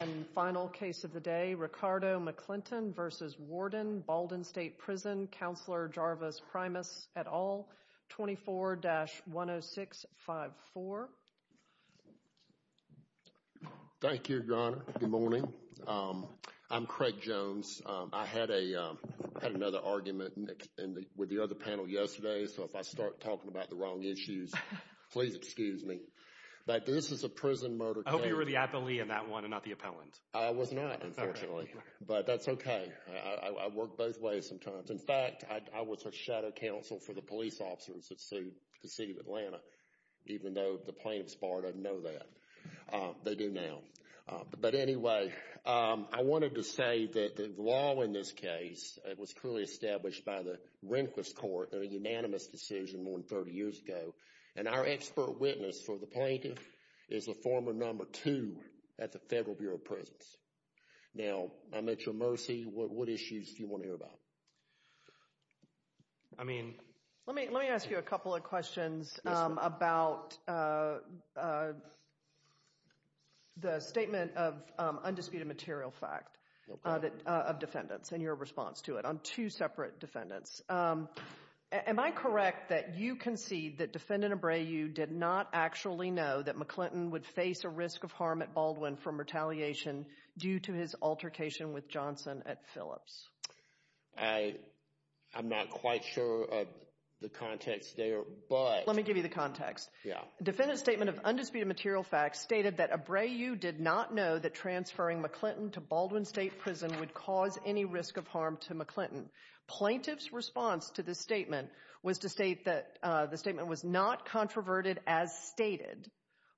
And final case of the day, Ricardo McClinton v. Warden, Baldwin State Prison, Counselor Jarvis Primus et al., 24-10654. Thank you, John. Good morning. I'm Craig Jones. I had another argument with the other panel yesterday, so if I start talking about the wrong issues, please excuse me. But this is a prison murder case. I hope you were the appellee in that one and not the appellant. I was not, unfortunately. But that's okay. I work both ways sometimes. In fact, I was a shadow counsel for the police officers that sued the city of Atlanta, even though the plaintiff's bar doesn't know that. They do now. But anyway, I wanted to say that the law in this case was clearly established by the Rehnquist Court in a unanimous decision more than 30 years ago. And our expert witness for the plaintiff is the former number two at the Federal Bureau of Prisons. Now, I'm at your mercy. What issues do you want to hear about? Let me ask you a couple of questions about the statement of undisputed material fact of defendants and your response to it on two separate defendants. Am I correct that you concede that Defendant Abreu did not actually know that McClinton would face a risk of harm at Baldwin from retaliation due to his altercation with Johnson at Phillips? I'm not quite sure of the context there, but... Let me give you the context. Yeah. Defendant's statement of undisputed material fact stated that Abreu did not know that transferring McClinton to Baldwin State Prison would cause any risk of harm to McClinton. Plaintiff's response to this statement was to state that the statement was not controverted as stated,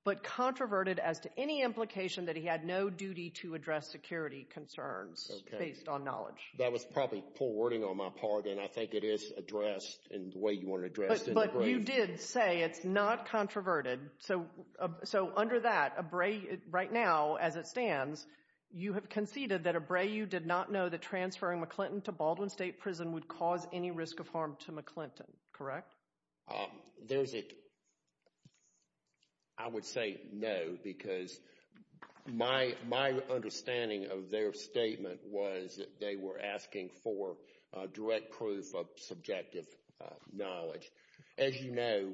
but controverted as to any implication that he had no duty to address security concerns based on knowledge. That was probably poor wording on my part, and I think it is addressed in the way you want to address it. But you did say it's not controverted, so under that, Abreu, right now, as it stands, you have conceded that Abreu did not know that transferring McClinton to Baldwin State Prison would cause any risk of harm to McClinton, correct? There's a... I would say no, because my understanding of their statement was that they were asking for direct proof of subjective knowledge. As you know,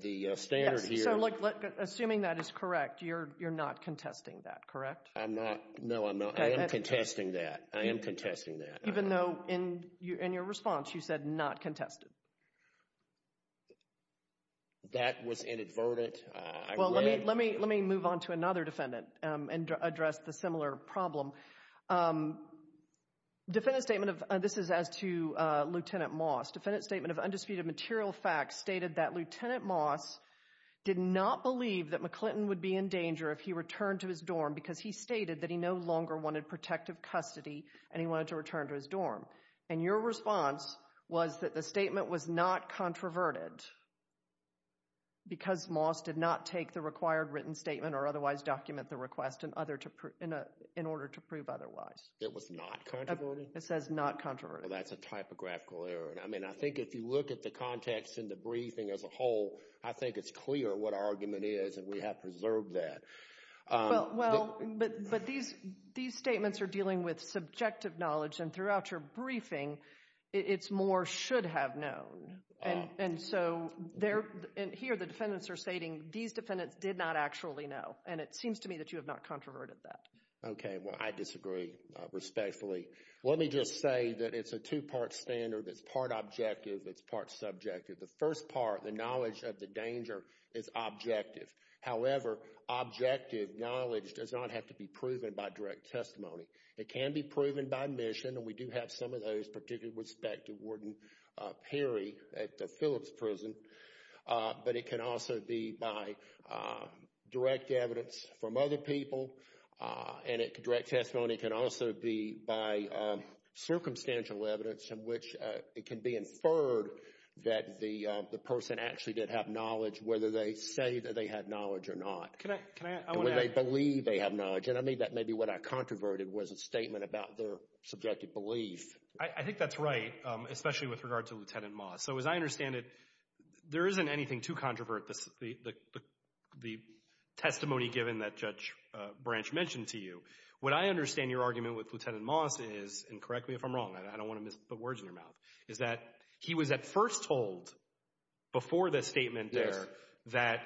the standard here... So look, assuming that is correct, you're not contesting that, correct? I'm not. No, I'm not. I am contesting that. Even though, in your response, you said not contested. That was inadvertent. Well, let me move on to another defendant and address the similar problem. Defendant's statement of... This is as to Lieutenant Moss. Defendant's statement of undisputed material facts stated that Lieutenant Moss did not believe that McClinton would be in danger if he returned to his dorm because he stated that he no longer wanted protective custody and he wanted to return to his dorm. And your response was that the statement was not controverted because Moss did not take the required written statement or otherwise document the request in order to prove otherwise. It was not controverted? It says not controverted. Well, that's a typographical error. I mean, I think if you look at the context and the briefing as a whole, I think it's clear what argument is and we have preserved that. Well, but these statements are dealing with subjective knowledge and throughout your briefing, it's more should have known. And so, here the defendants are stating these defendants did not actually know. And it seems to me that you have not controverted that. Okay. Well, I disagree respectfully. Let me just say that it's a two-part standard. It's part objective. It's part subjective. The first part, the knowledge of the danger is objective. However, objective knowledge does not have to be proven by direct testimony. It can be proven by mission, and we do have some of those, particularly with respect to Warden Perry at the Phillips prison, but it can also be by direct evidence from other people. And direct testimony can also be by circumstantial evidence in which it can be inferred that the person actually did have knowledge, whether they say that they had knowledge or not. Can I, can I, I want to add... And whether they believe they have knowledge. And I mean that maybe what I controverted was a statement about their subjective belief. I think that's right, especially with regard to Lieutenant Moss. So, as I understand it, there isn't anything to controvert the testimony given that Judge Branch mentioned to you. What I understand your argument with Lieutenant Moss is, and correct me if I'm wrong, I don't want to miss the words in your mouth, is that he was at first told before the statement there that,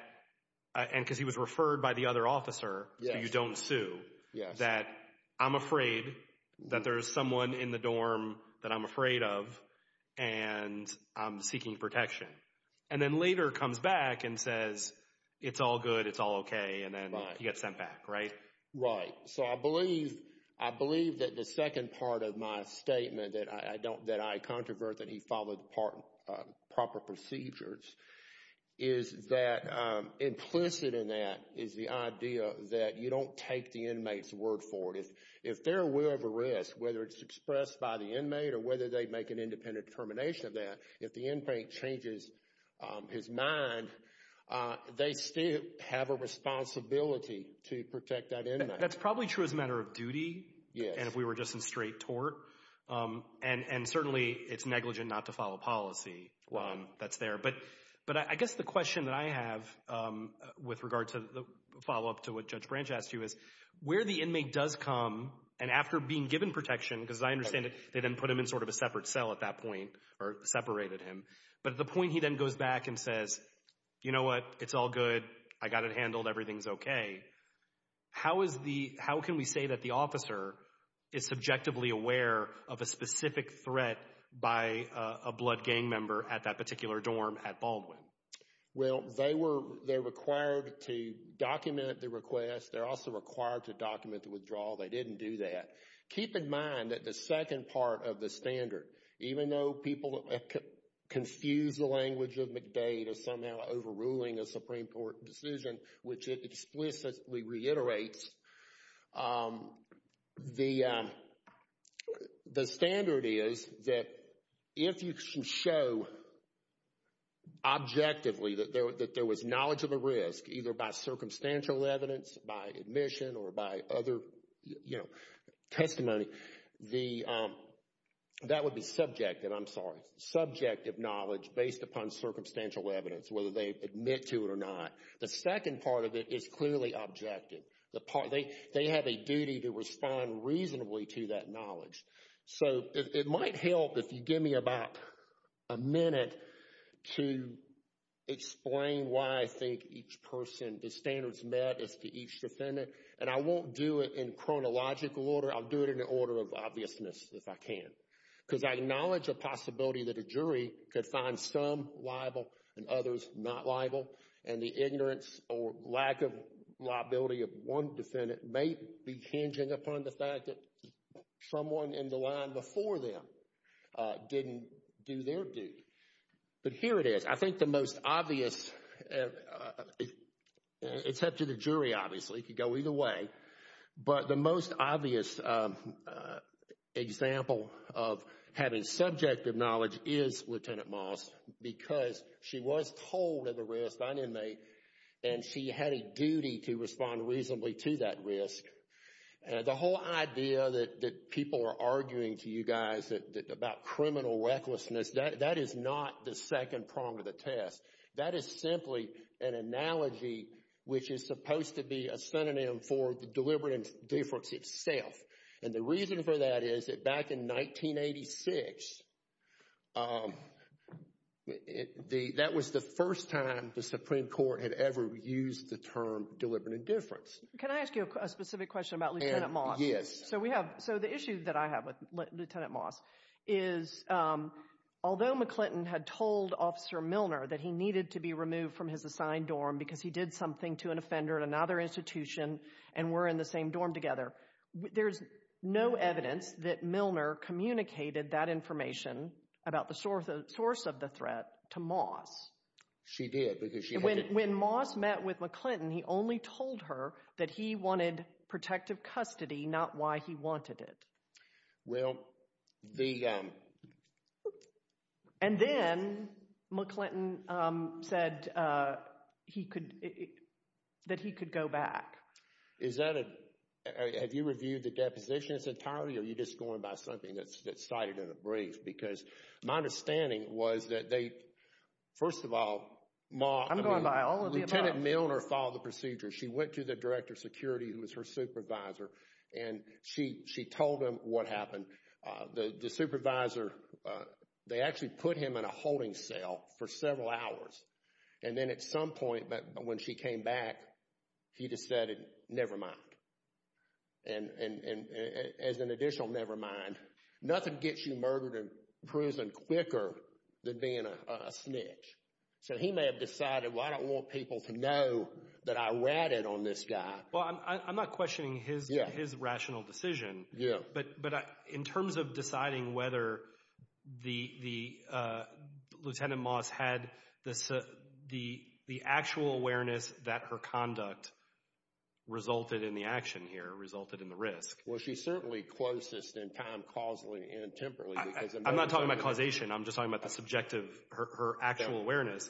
and because he was referred by the other officer, you don't sue, that I'm afraid that there's someone in the dorm that I'm afraid of, and I'm seeking protection. And then later comes back and says it's all good, it's all okay, and then he gets sent back, right? Right. So, I believe, I believe that the second part of my statement that I don't, that I controvert that he followed the proper procedures is that implicit in that is the idea that you don't take the inmate's word for it. If they're aware of a risk, whether it's expressed by the inmate or whether they make an independent determination of that, if the inmate changes his mind, they still have a responsibility to protect that inmate. That's probably true as a matter of duty. Yes. And if we were just in straight tort, and certainly it's negligent not to follow policy that's there. But I guess the question that I have with regard to the follow-up to what Judge Branch asked you is, where the inmate does come, and after being given protection, because I understand that they then put him in sort of a separate cell at that point, or separated him, but at the point he then goes back and says, you know what, it's all good, I got it handled, everything's okay. How is the, how can we say that the officer is subjectively aware of a specific threat by a blood gang member at that particular dorm at Baldwin? Well, they were, they're required to document the request. They're also required to document the withdrawal. They didn't do that. Keep in mind that the second part of the standard, even though people confuse the language of McDade as somehow overruling a Supreme Court decision, which it explicitly reiterates, the standard is that if you show objectively that there was knowledge of a risk, either by circumstantial evidence, by admission, or by other testimony, that would be subjective, I'm sorry, subjective knowledge based upon circumstantial evidence, whether they admit to it or not. The second part of it is clearly objective. The part, they have a duty to respond reasonably to that knowledge. So, it might help if you give me about a minute to explain why I think each person, the standards met as to each defendant, and I won't do it in chronological order, I'll do it in the order of obviousness if I can, because I acknowledge the possibility that a jury could find some liable and others not liable, and the ignorance or lack of liability of one defendant may be hinging upon the fact that someone in the line before them didn't do their duty. But here it is. I think the most obvious, except to the jury, obviously, it could go either way, but the most obvious example of having subjective knowledge is Lieutenant Moss, because she was told of a risk, an inmate, and she had a duty to respond reasonably to that risk. The whole idea that people are arguing to you guys about criminal recklessness, that is not the second prong of the test. That is simply an analogy which is supposed to be a synonym for the deliberative difference itself, and the reason for that is that back in 1986, that was the first time the Supreme Court had ever used the term deliberative difference. Can I ask you a specific question about Lieutenant Moss? Yes. So, we have, so the issue that I have with Lieutenant Moss is, although McClinton had told Officer Milner that he needed to be removed from his assigned dorm because he did something to an offender at another institution and were in the same dorm together, there's no evidence that Milner communicated that information about the source of the threat to Moss. She did, because she had to— When Moss met with McClinton, he only told her that he wanted protective custody, not why he wanted it. Well, the— And then, McClinton said he could, that he could go back. Is that a, have you reviewed the deposition in its entirety, or are you just going by something that's cited in a brief? Because my understanding was that they, first of all, Moss— I'm going by all of the above. Lieutenant Milner followed the procedure. She went to the Director of Security, who was her supervisor, and she told him what happened. The supervisor, they actually put him in a holding cell for several hours, and then at some point, when she came back, he decided, never mind. And as an additional never mind, nothing gets you murdered in prison quicker than being a snitch. So, he may have decided, well, I don't want people to know that I ratted on this guy. Well, I'm not questioning his rational decision. But in terms of deciding whether the, Lieutenant Moss had the actual awareness that her conduct resulted in the action here, resulted in the risk— Well, she's certainly closest in time, causally and temporally, because— I'm not talking about causation. I'm just talking about the subjective, her actual awareness.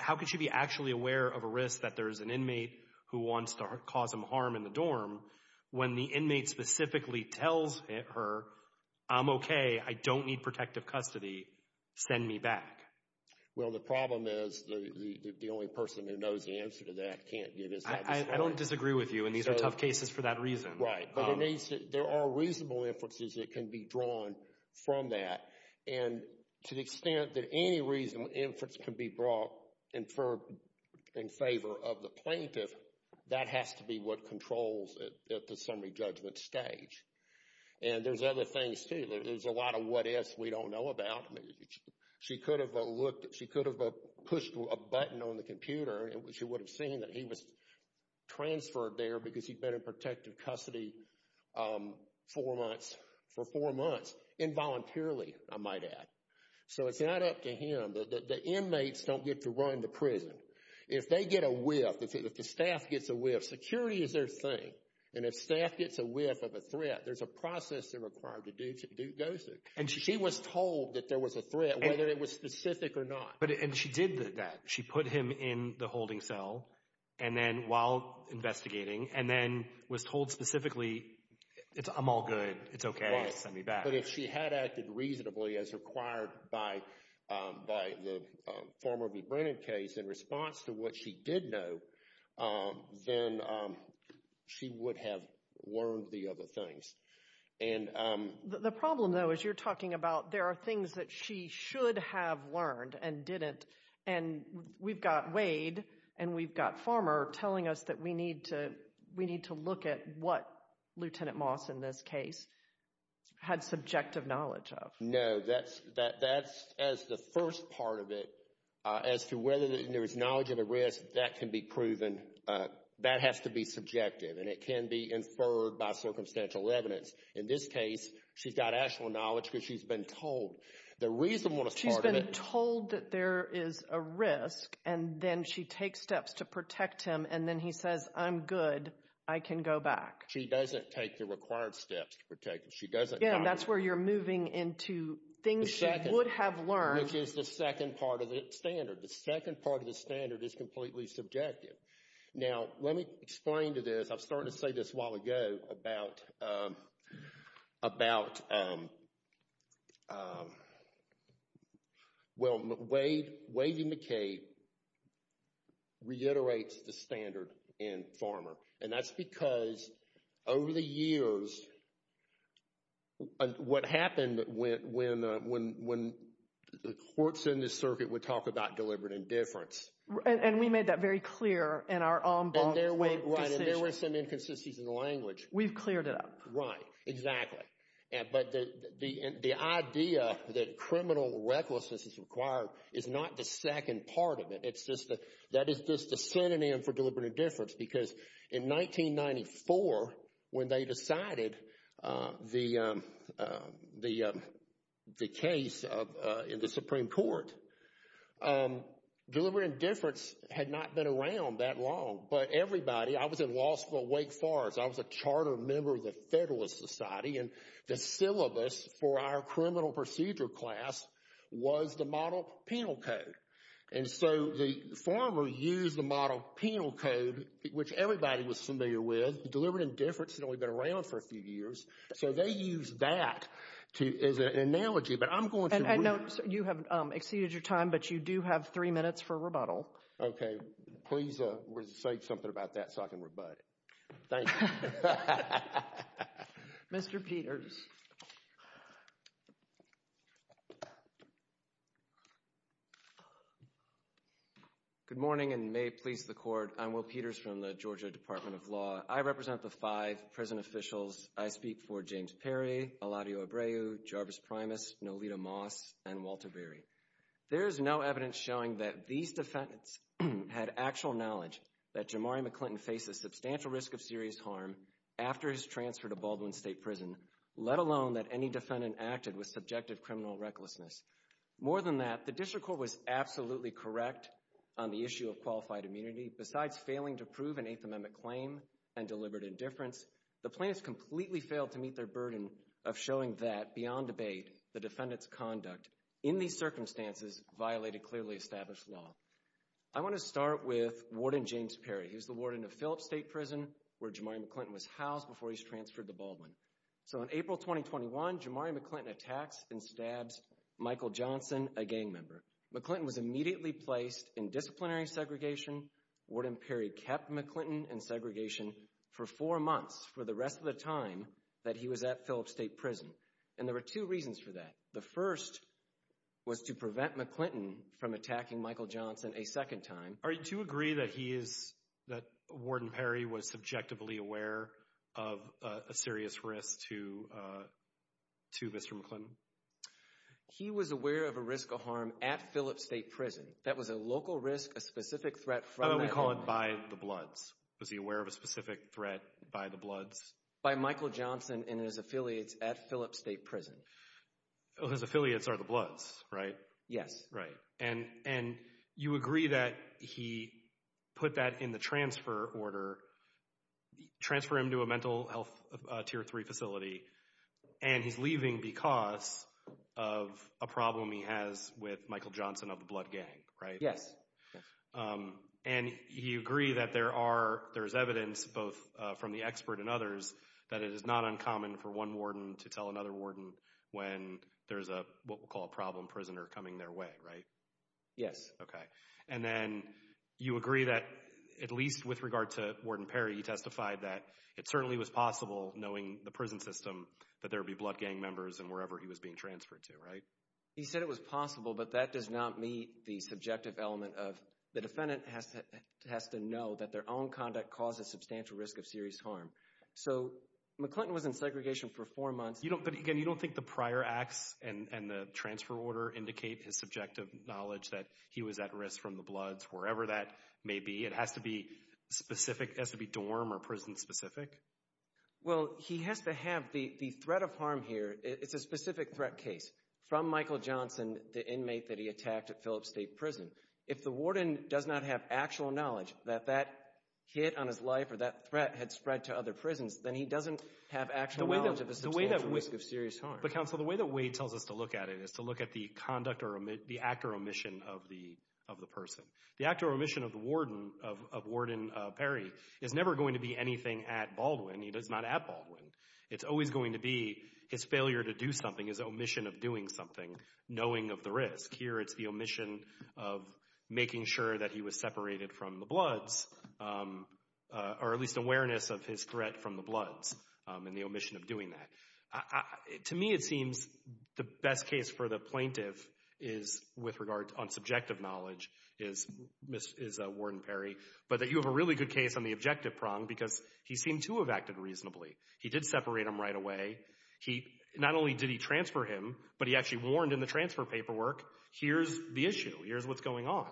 How could she be actually aware of a risk that there's an inmate who wants to cause him harm in the dorm, when the inmate specifically tells her, I'm okay, I don't need protective custody, send me back? Well, the problem is, the only person who knows the answer to that can't get his— I don't disagree with you, and these are tough cases for that reason. Right. But it needs to—there are reasonable inferences that can be drawn from that. And to the extent that any reasonable inference can be brought, inferred in favor of the plaintiff, that has to be what controls at the summary judgment stage. And there's other things, too. There's a lot of what ifs we don't know about. She could have looked—she could have pushed a button on the computer, and she would have seen that he was transferred there because he'd been in protective custody for four months, for four months, involuntarily, I might add. So it's not up to him. The inmates don't get to run the prison. If they get a whiff, if the staff gets a whiff, security is their thing. And if staff gets a whiff of a threat, there's a process they're required to go through. And she was told that there was a threat, whether it was specific or not. And she did that. She put him in the holding cell, and then while investigating, and then was told specifically, it's—I'm all good. It's okay. Send me back. But if she had acted reasonably as required by the former v. Brennan case, in response to what she did know, then she would have learned the other things. And— The problem, though, is you're talking about there are things that she should have learned and didn't. And we've got Wade and we've got Farmer telling us that we need to look at what Lieutenant Moss, in this case, had subjective knowledge of. No, that's—as the first part of it, as to whether there is knowledge of a risk, that can be proven. That has to be subjective. And it can be inferred by circumstantial evidence. In this case, she's got actual knowledge because she's been told. The reason one is part of it— There is a risk, and then she takes steps to protect him. And then he says, I'm good. I can go back. She doesn't take the required steps to protect him. She doesn't— Again, that's where you're moving into things she would have learned. The second—which is the second part of the standard. The second part of the standard is completely subjective. Now, let me explain to this. I was starting to say this a while ago about— about—well, Wade—Wade and McCabe reiterates the standard in Farmer. And that's because, over the years, what happened when the courts in the circuit would talk about deliberate indifference— And we made that very clear in our ombudsman decision. And there were some inconsistencies in the language. We've cleared it up. Right. Exactly. But the idea that criminal recklessness is required is not the second part of it. It's just—that is just the synonym for deliberate indifference. Because in 1994, when they decided the case in the Supreme Court, deliberate indifference had not been around that long. But everybody—I was in law school at Wake Forest. I was a charter member of the Federalist Society. And the syllabus for our criminal procedure class was the model penal code. And so the Farmer used the model penal code, which everybody was familiar with, deliberate indifference had only been around for a few years. So they used that to—as an analogy. But I'm going to— I know you have exceeded your time, but you do have three minutes for rebuttal. Okay. Please say something about that so I can rebut it. Thank you. Mr. Peters. Good morning, and may it please the Court. I'm Will Peters from the Georgia Department of Law. I represent the five prison officials. I speak for James Perry, Eladio Abreu, Jarvis Primus, Nolita Moss, and Walter Berry. There is no evidence showing that these defendants had actual knowledge that Jamari McClinton faced a substantial risk of serious harm after his transfer to Baldwin State Prison, let alone that any defendant acted with subjective criminal recklessness. More than that, the district court was absolutely correct on the issue of qualified immunity. Besides failing to prove an Eighth Amendment claim and deliberate indifference, the plaintiffs completely failed to meet their burden of showing that, beyond debate, the defendant's conduct in these circumstances violated clearly established law. I want to start with Warden James Perry. He was the warden of Phillips State Prison, where Jamari McClinton was housed before he was transferred to Baldwin. So in April 2021, Jamari McClinton attacks and stabs Michael Johnson, a gang member. McClinton was immediately placed in disciplinary segregation. Warden Perry kept McClinton in segregation for four months, for the rest of the time that he was at Phillips State Prison. And there were two reasons for that. The first was to prevent McClinton from attacking Michael Johnson a second time. Are you to agree that he is, that Warden Perry was subjectively aware of a serious risk to, uh, to Mr. McClinton? He was aware of a risk of harm at Phillips State Prison. That was a local risk, a specific threat from- Oh, we call it by the bloods. Was he aware of a specific threat by the bloods? By Michael Johnson and his affiliates at Phillips State Prison. His affiliates are the bloods, right? Yes. Right. And, and you agree that he put that in the transfer order, transfer him to a mental health Tier 3 facility, and he's leaving because of a problem he has with Michael Johnson of the blood gang, right? Yes. And you agree that there are, there's evidence, both from the expert and others, that it is not uncommon for one warden to tell another warden when there's a, what we'll call a problem prisoner coming their way, right? Yes. Okay. And then you agree that, at least with regard to Warden Perry, he testified that it certainly was possible knowing the prison system that there would be blood gang members in wherever he was being transferred to, right? He said it was possible, but that does not meet the subjective element of the defendant has to know that their own conduct causes substantial risk of serious harm. So, McClinton was in segregation for four months. You don't, but again, you don't think the prior acts and the transfer order indicate his subjective knowledge that he was at risk from the bloods, wherever that may be? It has to be specific, has to be dorm or prison specific? Well, he has to have the, the threat of harm here, it's a specific threat case from Michael Johnson, the inmate that he attacked at Phillips State Prison. If the warden does not have actual knowledge that that hit on his life or that threat had spread to other prisons, then he doesn't have actual knowledge of the substantial risk of serious harm. But counsel, the way that Wade tells us to look at it is to look at the conduct or the act or omission of the, of the person. The act or omission of the warden, of Warden Perry, is never going to be anything at Baldwin. He's not at Baldwin. It's always going to be his failure to do something, his omission of doing something, knowing of the risk. Here, it's the omission of making sure that he was separated from the bloods, or at least awareness of his threat from the bloods and the omission of doing that. To me, it seems the best case for the plaintiff is, with regard on subjective knowledge, is Warden Perry, but that you have a really good case on the objective prong because he seemed to have acted reasonably. He did separate him right away. He, not only did he transfer him, but he actually warned in the transfer paperwork, here's the issue, here's what's going on.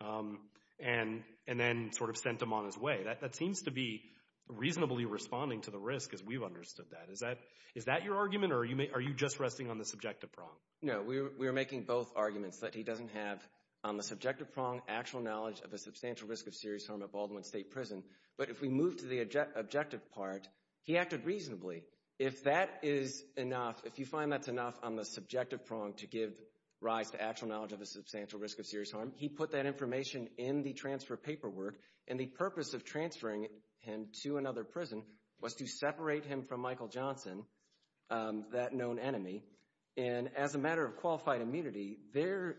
Um, and, and then sort of sent him on his way. That, that seems to be reasonably responding to the risk as we've understood that. Is that, is that your argument or are you, are you just resting on the subjective prong? No, we were making both arguments that he doesn't have on the subjective prong actual knowledge of a substantial risk of serious harm at Baldwin State Prison, but if we move to the objective part, he acted reasonably. If that is enough, if you find that's enough on the subjective prong to give rise to actual knowledge of a substantial risk of serious harm, he put that information in the transfer paperwork, and the purpose of transferring him to another prison was to separate him from Michael Johnson, um, that known enemy, and as a matter of qualified immunity, there,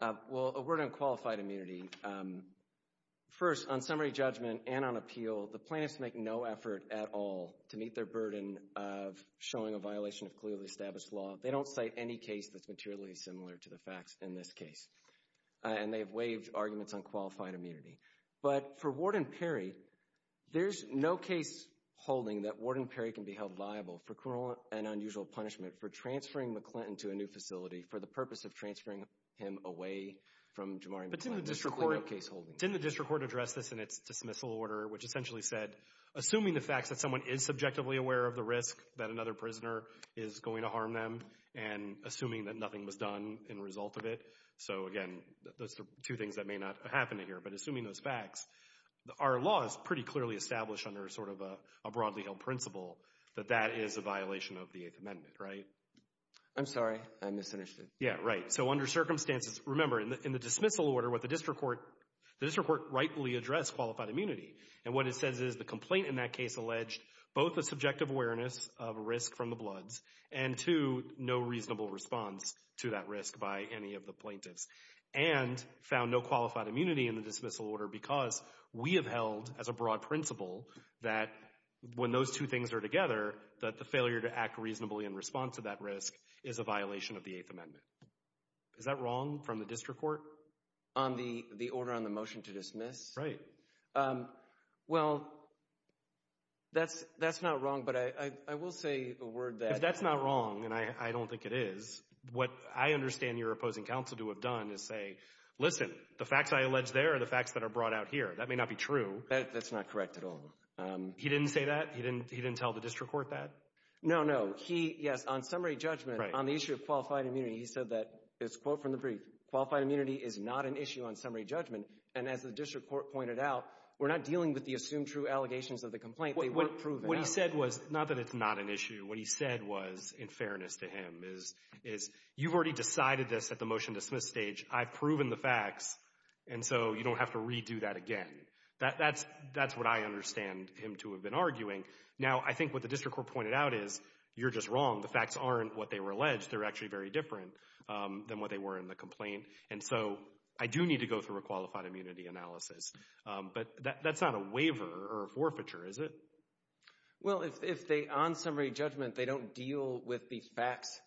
uh, well, a word on qualified immunity, um, first, on summary judgment and on appeal, the plaintiffs make no effort at all to meet their burden of showing a violation of clearly established law. They don't cite any case that's materially similar to the facts in this case, and they've waived arguments on qualified immunity. But for Warden Perry, there's no case holding that Warden Perry can be held liable for criminal and unusual punishment for transferring McClinton to a new facility for the purpose of transferring him away from Jamari McClendon. But didn't the district court, didn't the district court address this in its dismissal order, which essentially said, assuming the fact that someone is subjectively aware of the risk that another prisoner is going to harm them, and assuming that nothing was done in result of it, so again, those are two things that may not happen here, but assuming those facts, our law is pretty clearly established under sort of a, a broadly held principle that that is a violation of the Eighth Amendment, right? I'm sorry, I misunderstood. Yeah, right, so under circumstances, remember, in the dismissal order, what the district court, the district court rightfully addressed qualified immunity, and what it says is the of risk from the bloods, and two, no reasonable response to that risk by any of the plaintiffs, and found no qualified immunity in the dismissal order because we have held as a broad principle that when those two things are together, that the failure to act reasonably in response to that risk is a violation of the Eighth Amendment. Is that wrong from the district court? On the, the order on the motion to dismiss? Right. Um, well, that's, that's not wrong, but I, I, I will say a word that. If that's not wrong, and I, I don't think it is, what I understand your opposing counsel to have done is say, listen, the facts I allege there are the facts that are brought out here. That may not be true. That's not correct at all. He didn't say that? He didn't, he didn't tell the district court that? No, no, he, yes, on summary judgment, on the issue of qualified immunity, he said that, his quote from the brief, qualified immunity is not an issue on summary judgment, and as the district court pointed out, we're not dealing with the assumed true allegations of the complaint. They weren't proven. What he said was, not that it's not an issue. What he said was, in fairness to him, is, is you've already decided this at the motion to dismiss stage. I've proven the facts, and so you don't have to redo that again. That, that's, that's what I understand him to have been arguing. Now, I think what the district court pointed out is, you're just wrong. The facts aren't what they were alleged. They're actually very different than what they were in the complaint. And so, I do need to go through a qualified immunity analysis, but that, that's not a waiver or a forfeiture, is it? Well, if, if they, on summary judgment, they don't deal with the facts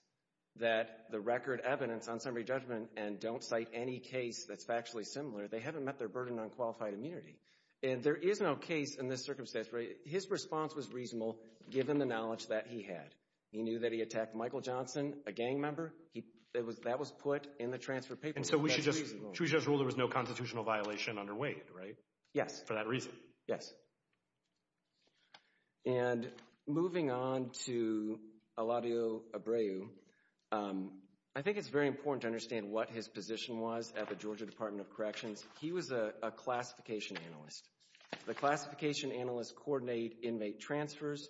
that the record evidence on summary judgment, and don't cite any case that's factually similar, they haven't met their burden on qualified immunity. And there is no case in this circumstance where his response was reasonable, given the knowledge that he had. He knew that he attacked Michael Johnson, a gang member. He, it was, that was put in the transfer paper. And so, we should just, should we just rule there was no constitutional violation underway, right? Yes. For that reason. Yes. And moving on to Eladio Abreu, I think it's very important to understand what his position was at the Georgia Department of Corrections. He was a, a classification analyst. The classification analysts coordinate inmate transfers.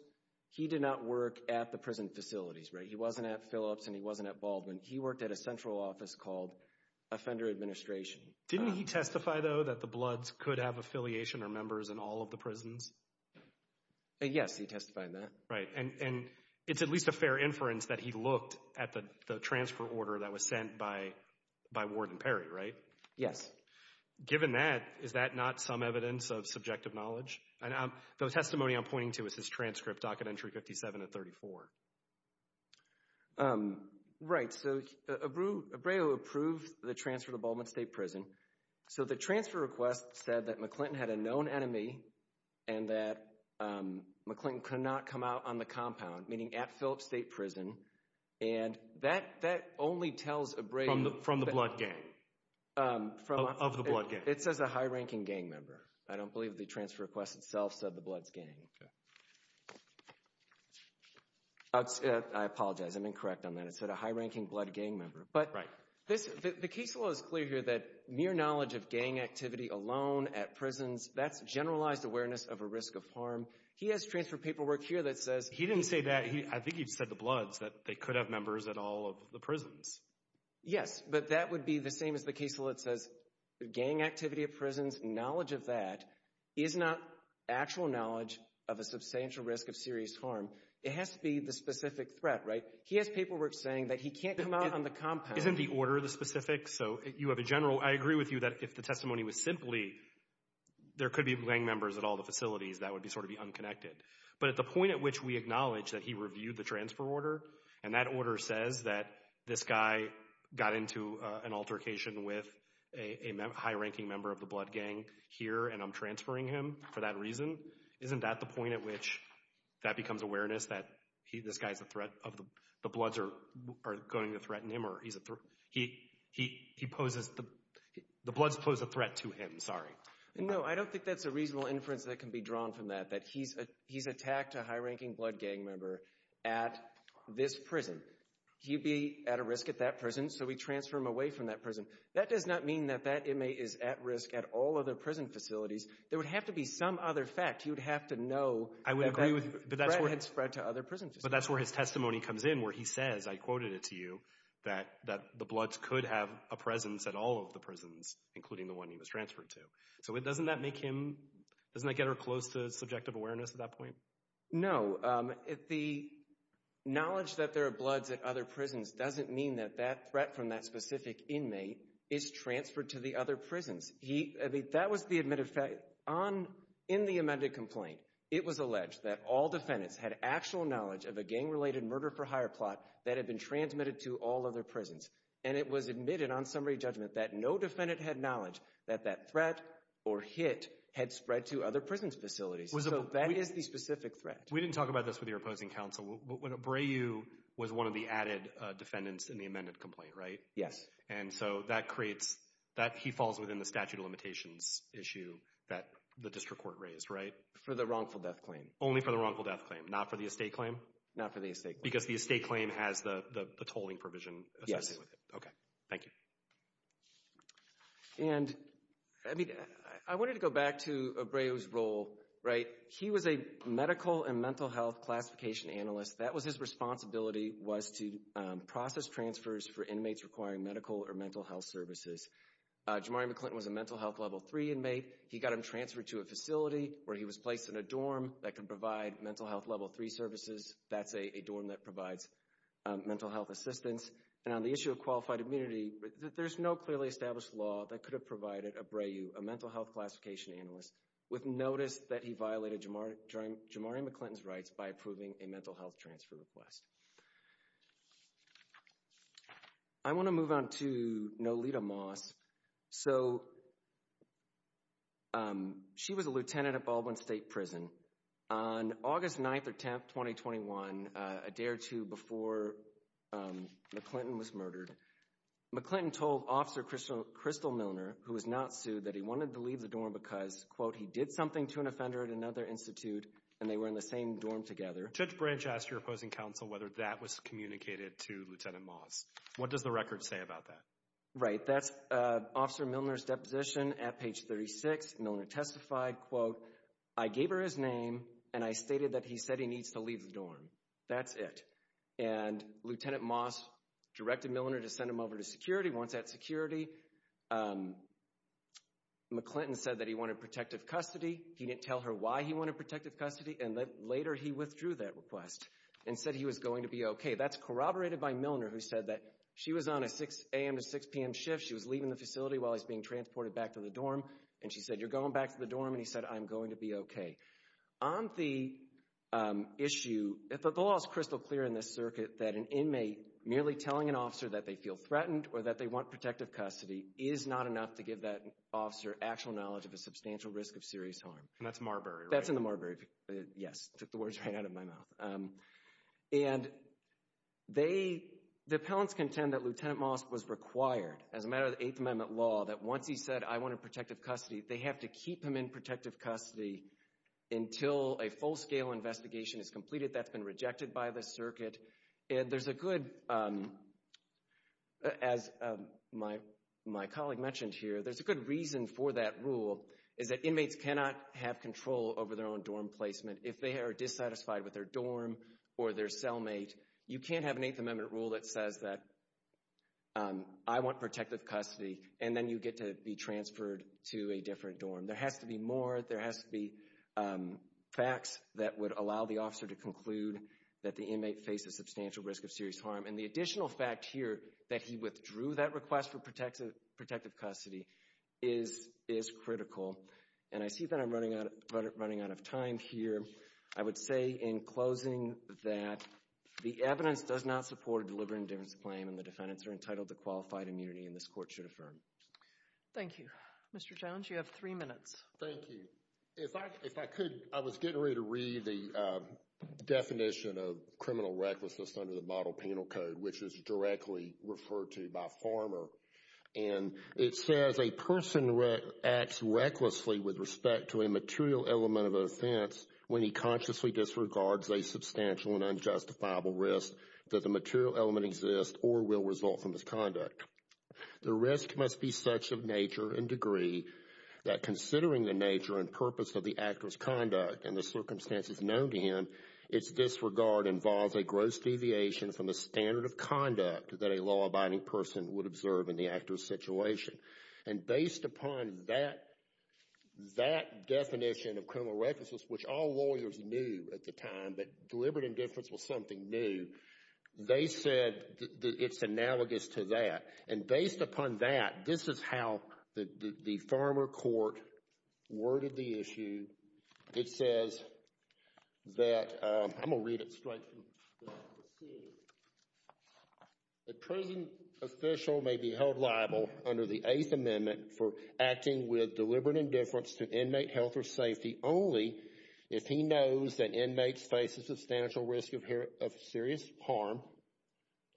He did not work at the prison facilities, right? He wasn't at Phillips, and he wasn't at Baldwin. He worked at a central office called Offender Administration. Didn't he testify, though, that the Bloods could have affiliation or members in all of the prisons? Yes, he testified that. Right. And, and it's at least a fair inference that he looked at the, the transfer order that was sent by, by Ward and Perry, right? Yes. Given that, is that not some evidence of subjective knowledge? And I'm, the testimony I'm pointing to is his transcript, Docket Entry 57 and 34. Um, right. So, Abreu, Abreu approved the transfer to Baldwin State Prison. So, the transfer request said that McClinton had a known enemy and that, um, McClinton could not come out on the compound, meaning at Phillips State Prison. And that, that only tells Abreu. From the, from the Blood gang. Um, from. Of the Blood gang. It says a high-ranking gang member. I don't believe the transfer request itself said the Bloods gang. Okay. Um, I apologize. I'm incorrect on that. It said a high-ranking Blood gang member. But. Right. This, the case law is clear here that mere knowledge of gang activity alone at prisons, that's generalized awareness of a risk of harm. He has transfer paperwork here that says. He didn't say that. I think he said the Bloods, that they could have members at all of the prisons. Yes, but that would be the same as the case law that says gang activity at prisons, knowledge of that is not actual knowledge of a substantial risk of serious harm. It has to be the specific threat, right? He has paperwork saying that he can't come out on the compound. Isn't the order the specific? So you have a general. I agree with you that if the testimony was simply there could be gang members at all the facilities, that would be sort of be unconnected. But at the point at which we acknowledge that he reviewed the transfer order and that order says that this guy got into an altercation with a high-ranking member of the Blood gang, here and I'm transferring him for that reason. Isn't that the point at which that becomes awareness that he, this guy's a threat of the Bloods are going to threaten him or he's a threat. He poses, the Bloods pose a threat to him. Sorry. No, I don't think that's a reasonable inference that can be drawn from that. That he's attacked a high-ranking Blood gang member at this prison. He'd be at a risk at that prison. So we transfer him away from that prison. That does not mean that that inmate is at risk at all other prison facilities. There would have to be some other fact. You'd have to know that that threat had spread to other prison facilities. But that's where his testimony comes in, where he says, I quoted it to you, that the Bloods could have a presence at all of the prisons, including the one he was transferred to. So doesn't that make him, doesn't that get her close to subjective awareness at that point? No, the knowledge that there are Bloods at other prisons doesn't mean that that threat from that specific inmate is transferred to the other prisons. That was the admitted fact. On, in the amended complaint, it was alleged that all defendants had actual knowledge of a gang-related murder-for-hire plot that had been transmitted to all other prisons. And it was admitted on summary judgment that no defendant had knowledge that that threat or hit had spread to other prison facilities. So that is the specific threat. We didn't talk about this with your opposing counsel. Abreu was one of the added defendants in the amended complaint, right? Yes. And so that creates, that, he falls within the statute of limitations issue that the district court raised, right? For the wrongful death claim. Only for the wrongful death claim, not for the estate claim? Not for the estate claim. Because the estate claim has the tolling provision associated with it. Okay, thank you. And, I mean, I wanted to go back to Abreu's role, right? He was a medical and mental health classification analyst. That was his responsibility, was to process transfers for inmates requiring medical or mental health services. Jamari McClinton was a mental health level three inmate. He got him transferred to a facility where he was placed in a dorm that could provide mental health level three services. That's a dorm that provides mental health assistance. And on the issue of qualified immunity, there's no clearly established law that could have I want to move on to Nolita Moss. So, she was a lieutenant at Baldwin State Prison. On August 9th or 10th, 2021, a day or two before McClinton was murdered, McClinton told Officer Crystal Milner, who was not sued, that he wanted to leave the dorm because, quote, he did something to an offender at another institute and they were in the same dorm together. Judge Branch asked your opposing counsel whether that was communicated to Lieutenant Moss. What does the record say about that? Right. That's Officer Milner's deposition at page 36. Milner testified, quote, I gave her his name and I stated that he said he needs to leave the dorm. That's it. And Lieutenant Moss directed Milner to send him over to security. Once at security, McClinton said that he wanted protective custody. He didn't tell her why he wanted protective custody. And later he withdrew that request and said he was going to be okay. That's corroborated by Milner, who said that she was on a 6 a.m. to 6 p.m. shift. She was leaving the facility while he's being transported back to the dorm. And she said, you're going back to the dorm. And he said, I'm going to be okay. On the issue, the law is crystal clear in this circuit that an inmate merely telling an officer that they feel threatened or that they want protective custody is not enough to give that officer actual knowledge of a substantial risk of serious harm. And that's Marbury, right? That's in the Marbury, yes. Took the words right out of my mouth. And they, the appellants contend that Lieutenant Moss was required, as a matter of the Eighth Amendment law, that once he said, I want protective custody, they have to keep him in protective custody until a full-scale investigation is completed. That's been rejected by the circuit. And there's a good, as my colleague mentioned here, there's a good reason for that rule is that inmates cannot have control over their own dorm placement if they are dissatisfied with their dorm or their cellmate. You can't have an Eighth Amendment rule that says that I want protective custody and then you get to be transferred to a different dorm. There has to be more. There has to be facts that would allow the officer to conclude that the inmate faced a substantial risk of serious harm. And the additional fact here that he withdrew that request for protective custody is critical. And I see that I'm running out of time here. I would say in closing that the evidence does not support a deliberate indifference claim and the defendants are entitled to qualified immunity and this court should affirm. Thank you. Mr. Jones, you have three minutes. Thank you. If I could, I was getting ready to read the definition of criminal recklessness under the Model Penal Code, which is directly referred to by Farmer. And it says, a person acts recklessly with respect to a material element of offense when he consciously disregards a substantial and unjustifiable risk that the material element exists or will result from misconduct. The risk must be such of nature and degree that considering the nature and purpose of the actor's conduct and the circumstances known to him, its disregard involves a gross deviation from the standard of conduct that a law-abiding person would observe in the actor's situation. And based upon that definition of criminal recklessness, which all lawyers knew at the time, that deliberate indifference was something new, they said that it's analogous to that. And based upon that, this is how the Farmer court worded the issue. It says that, I'm going to read it straight from the seat, the prison official may be held liable under the Eighth Amendment for acting with deliberate indifference to inmate health or safety only if he knows that inmates face a substantial risk of serious harm.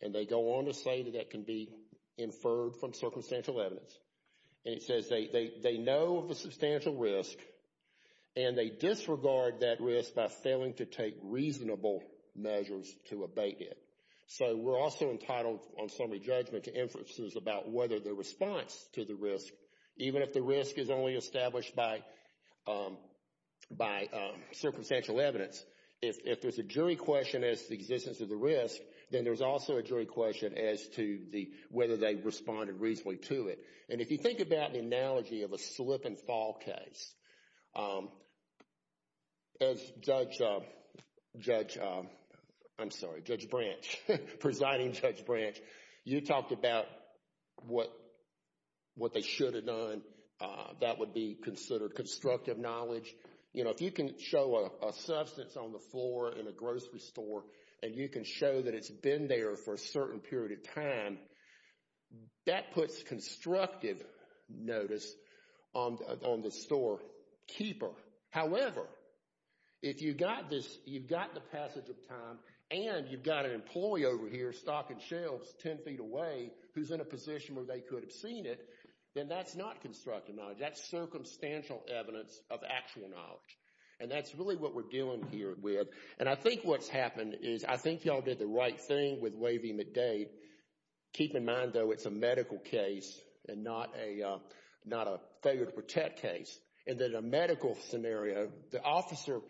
And they go on to say that that can be inferred from circumstantial evidence. And it says they know of a substantial risk and they disregard that risk by failing to take reasonable measures to abate it. So, we're also entitled on summary judgment to inferences about whether the response to the risk, even if the risk is only established by circumstantial evidence, if there's a jury question as to the existence of the risk, then there's also a jury question as to whether they responded reasonably to it. And if you think about the analogy of a slip-and-fall case, as Judge Branch, presiding Judge Branch, you talked about what they should have done. That would be considered constructive knowledge. You know, if you can show a substance on the floor in a grocery store and you can show that it's been there for a certain period of time, that puts constructive notice on the storekeeper. However, if you've got the passage of time and you've got an employee over here stocking themselves 10 feet away who's in a position where they could have seen it, then that's not constructive knowledge. That's circumstantial evidence of actual knowledge. And that's really what we're dealing here with. And I think what's happened is I think y'all did the right thing with waiving the date. Keep in mind, though, it's a medical case and not a failure to protect case. And in a medical scenario, the officer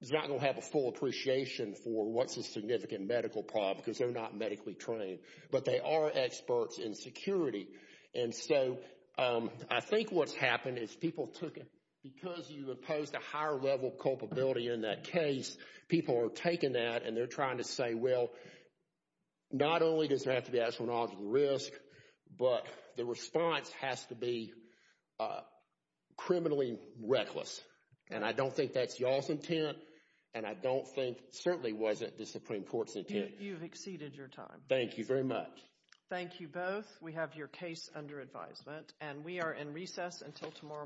is not going to have a full appreciation for what's a significant medical problem because they're not medically trained, but they are experts in security. And so I think what's happened is people took it because you imposed a higher level of culpability in that case. People are taking that and they're trying to say, well, not only does it have to be astronomical risk, but the response has to be criminally reckless. And I don't think that's y'all's intent and I don't think certainly wasn't the Supreme Court's intent. You've exceeded your time. Thank you very much. Thank you both. We have your case under advisement and we are in recess until tomorrow morning.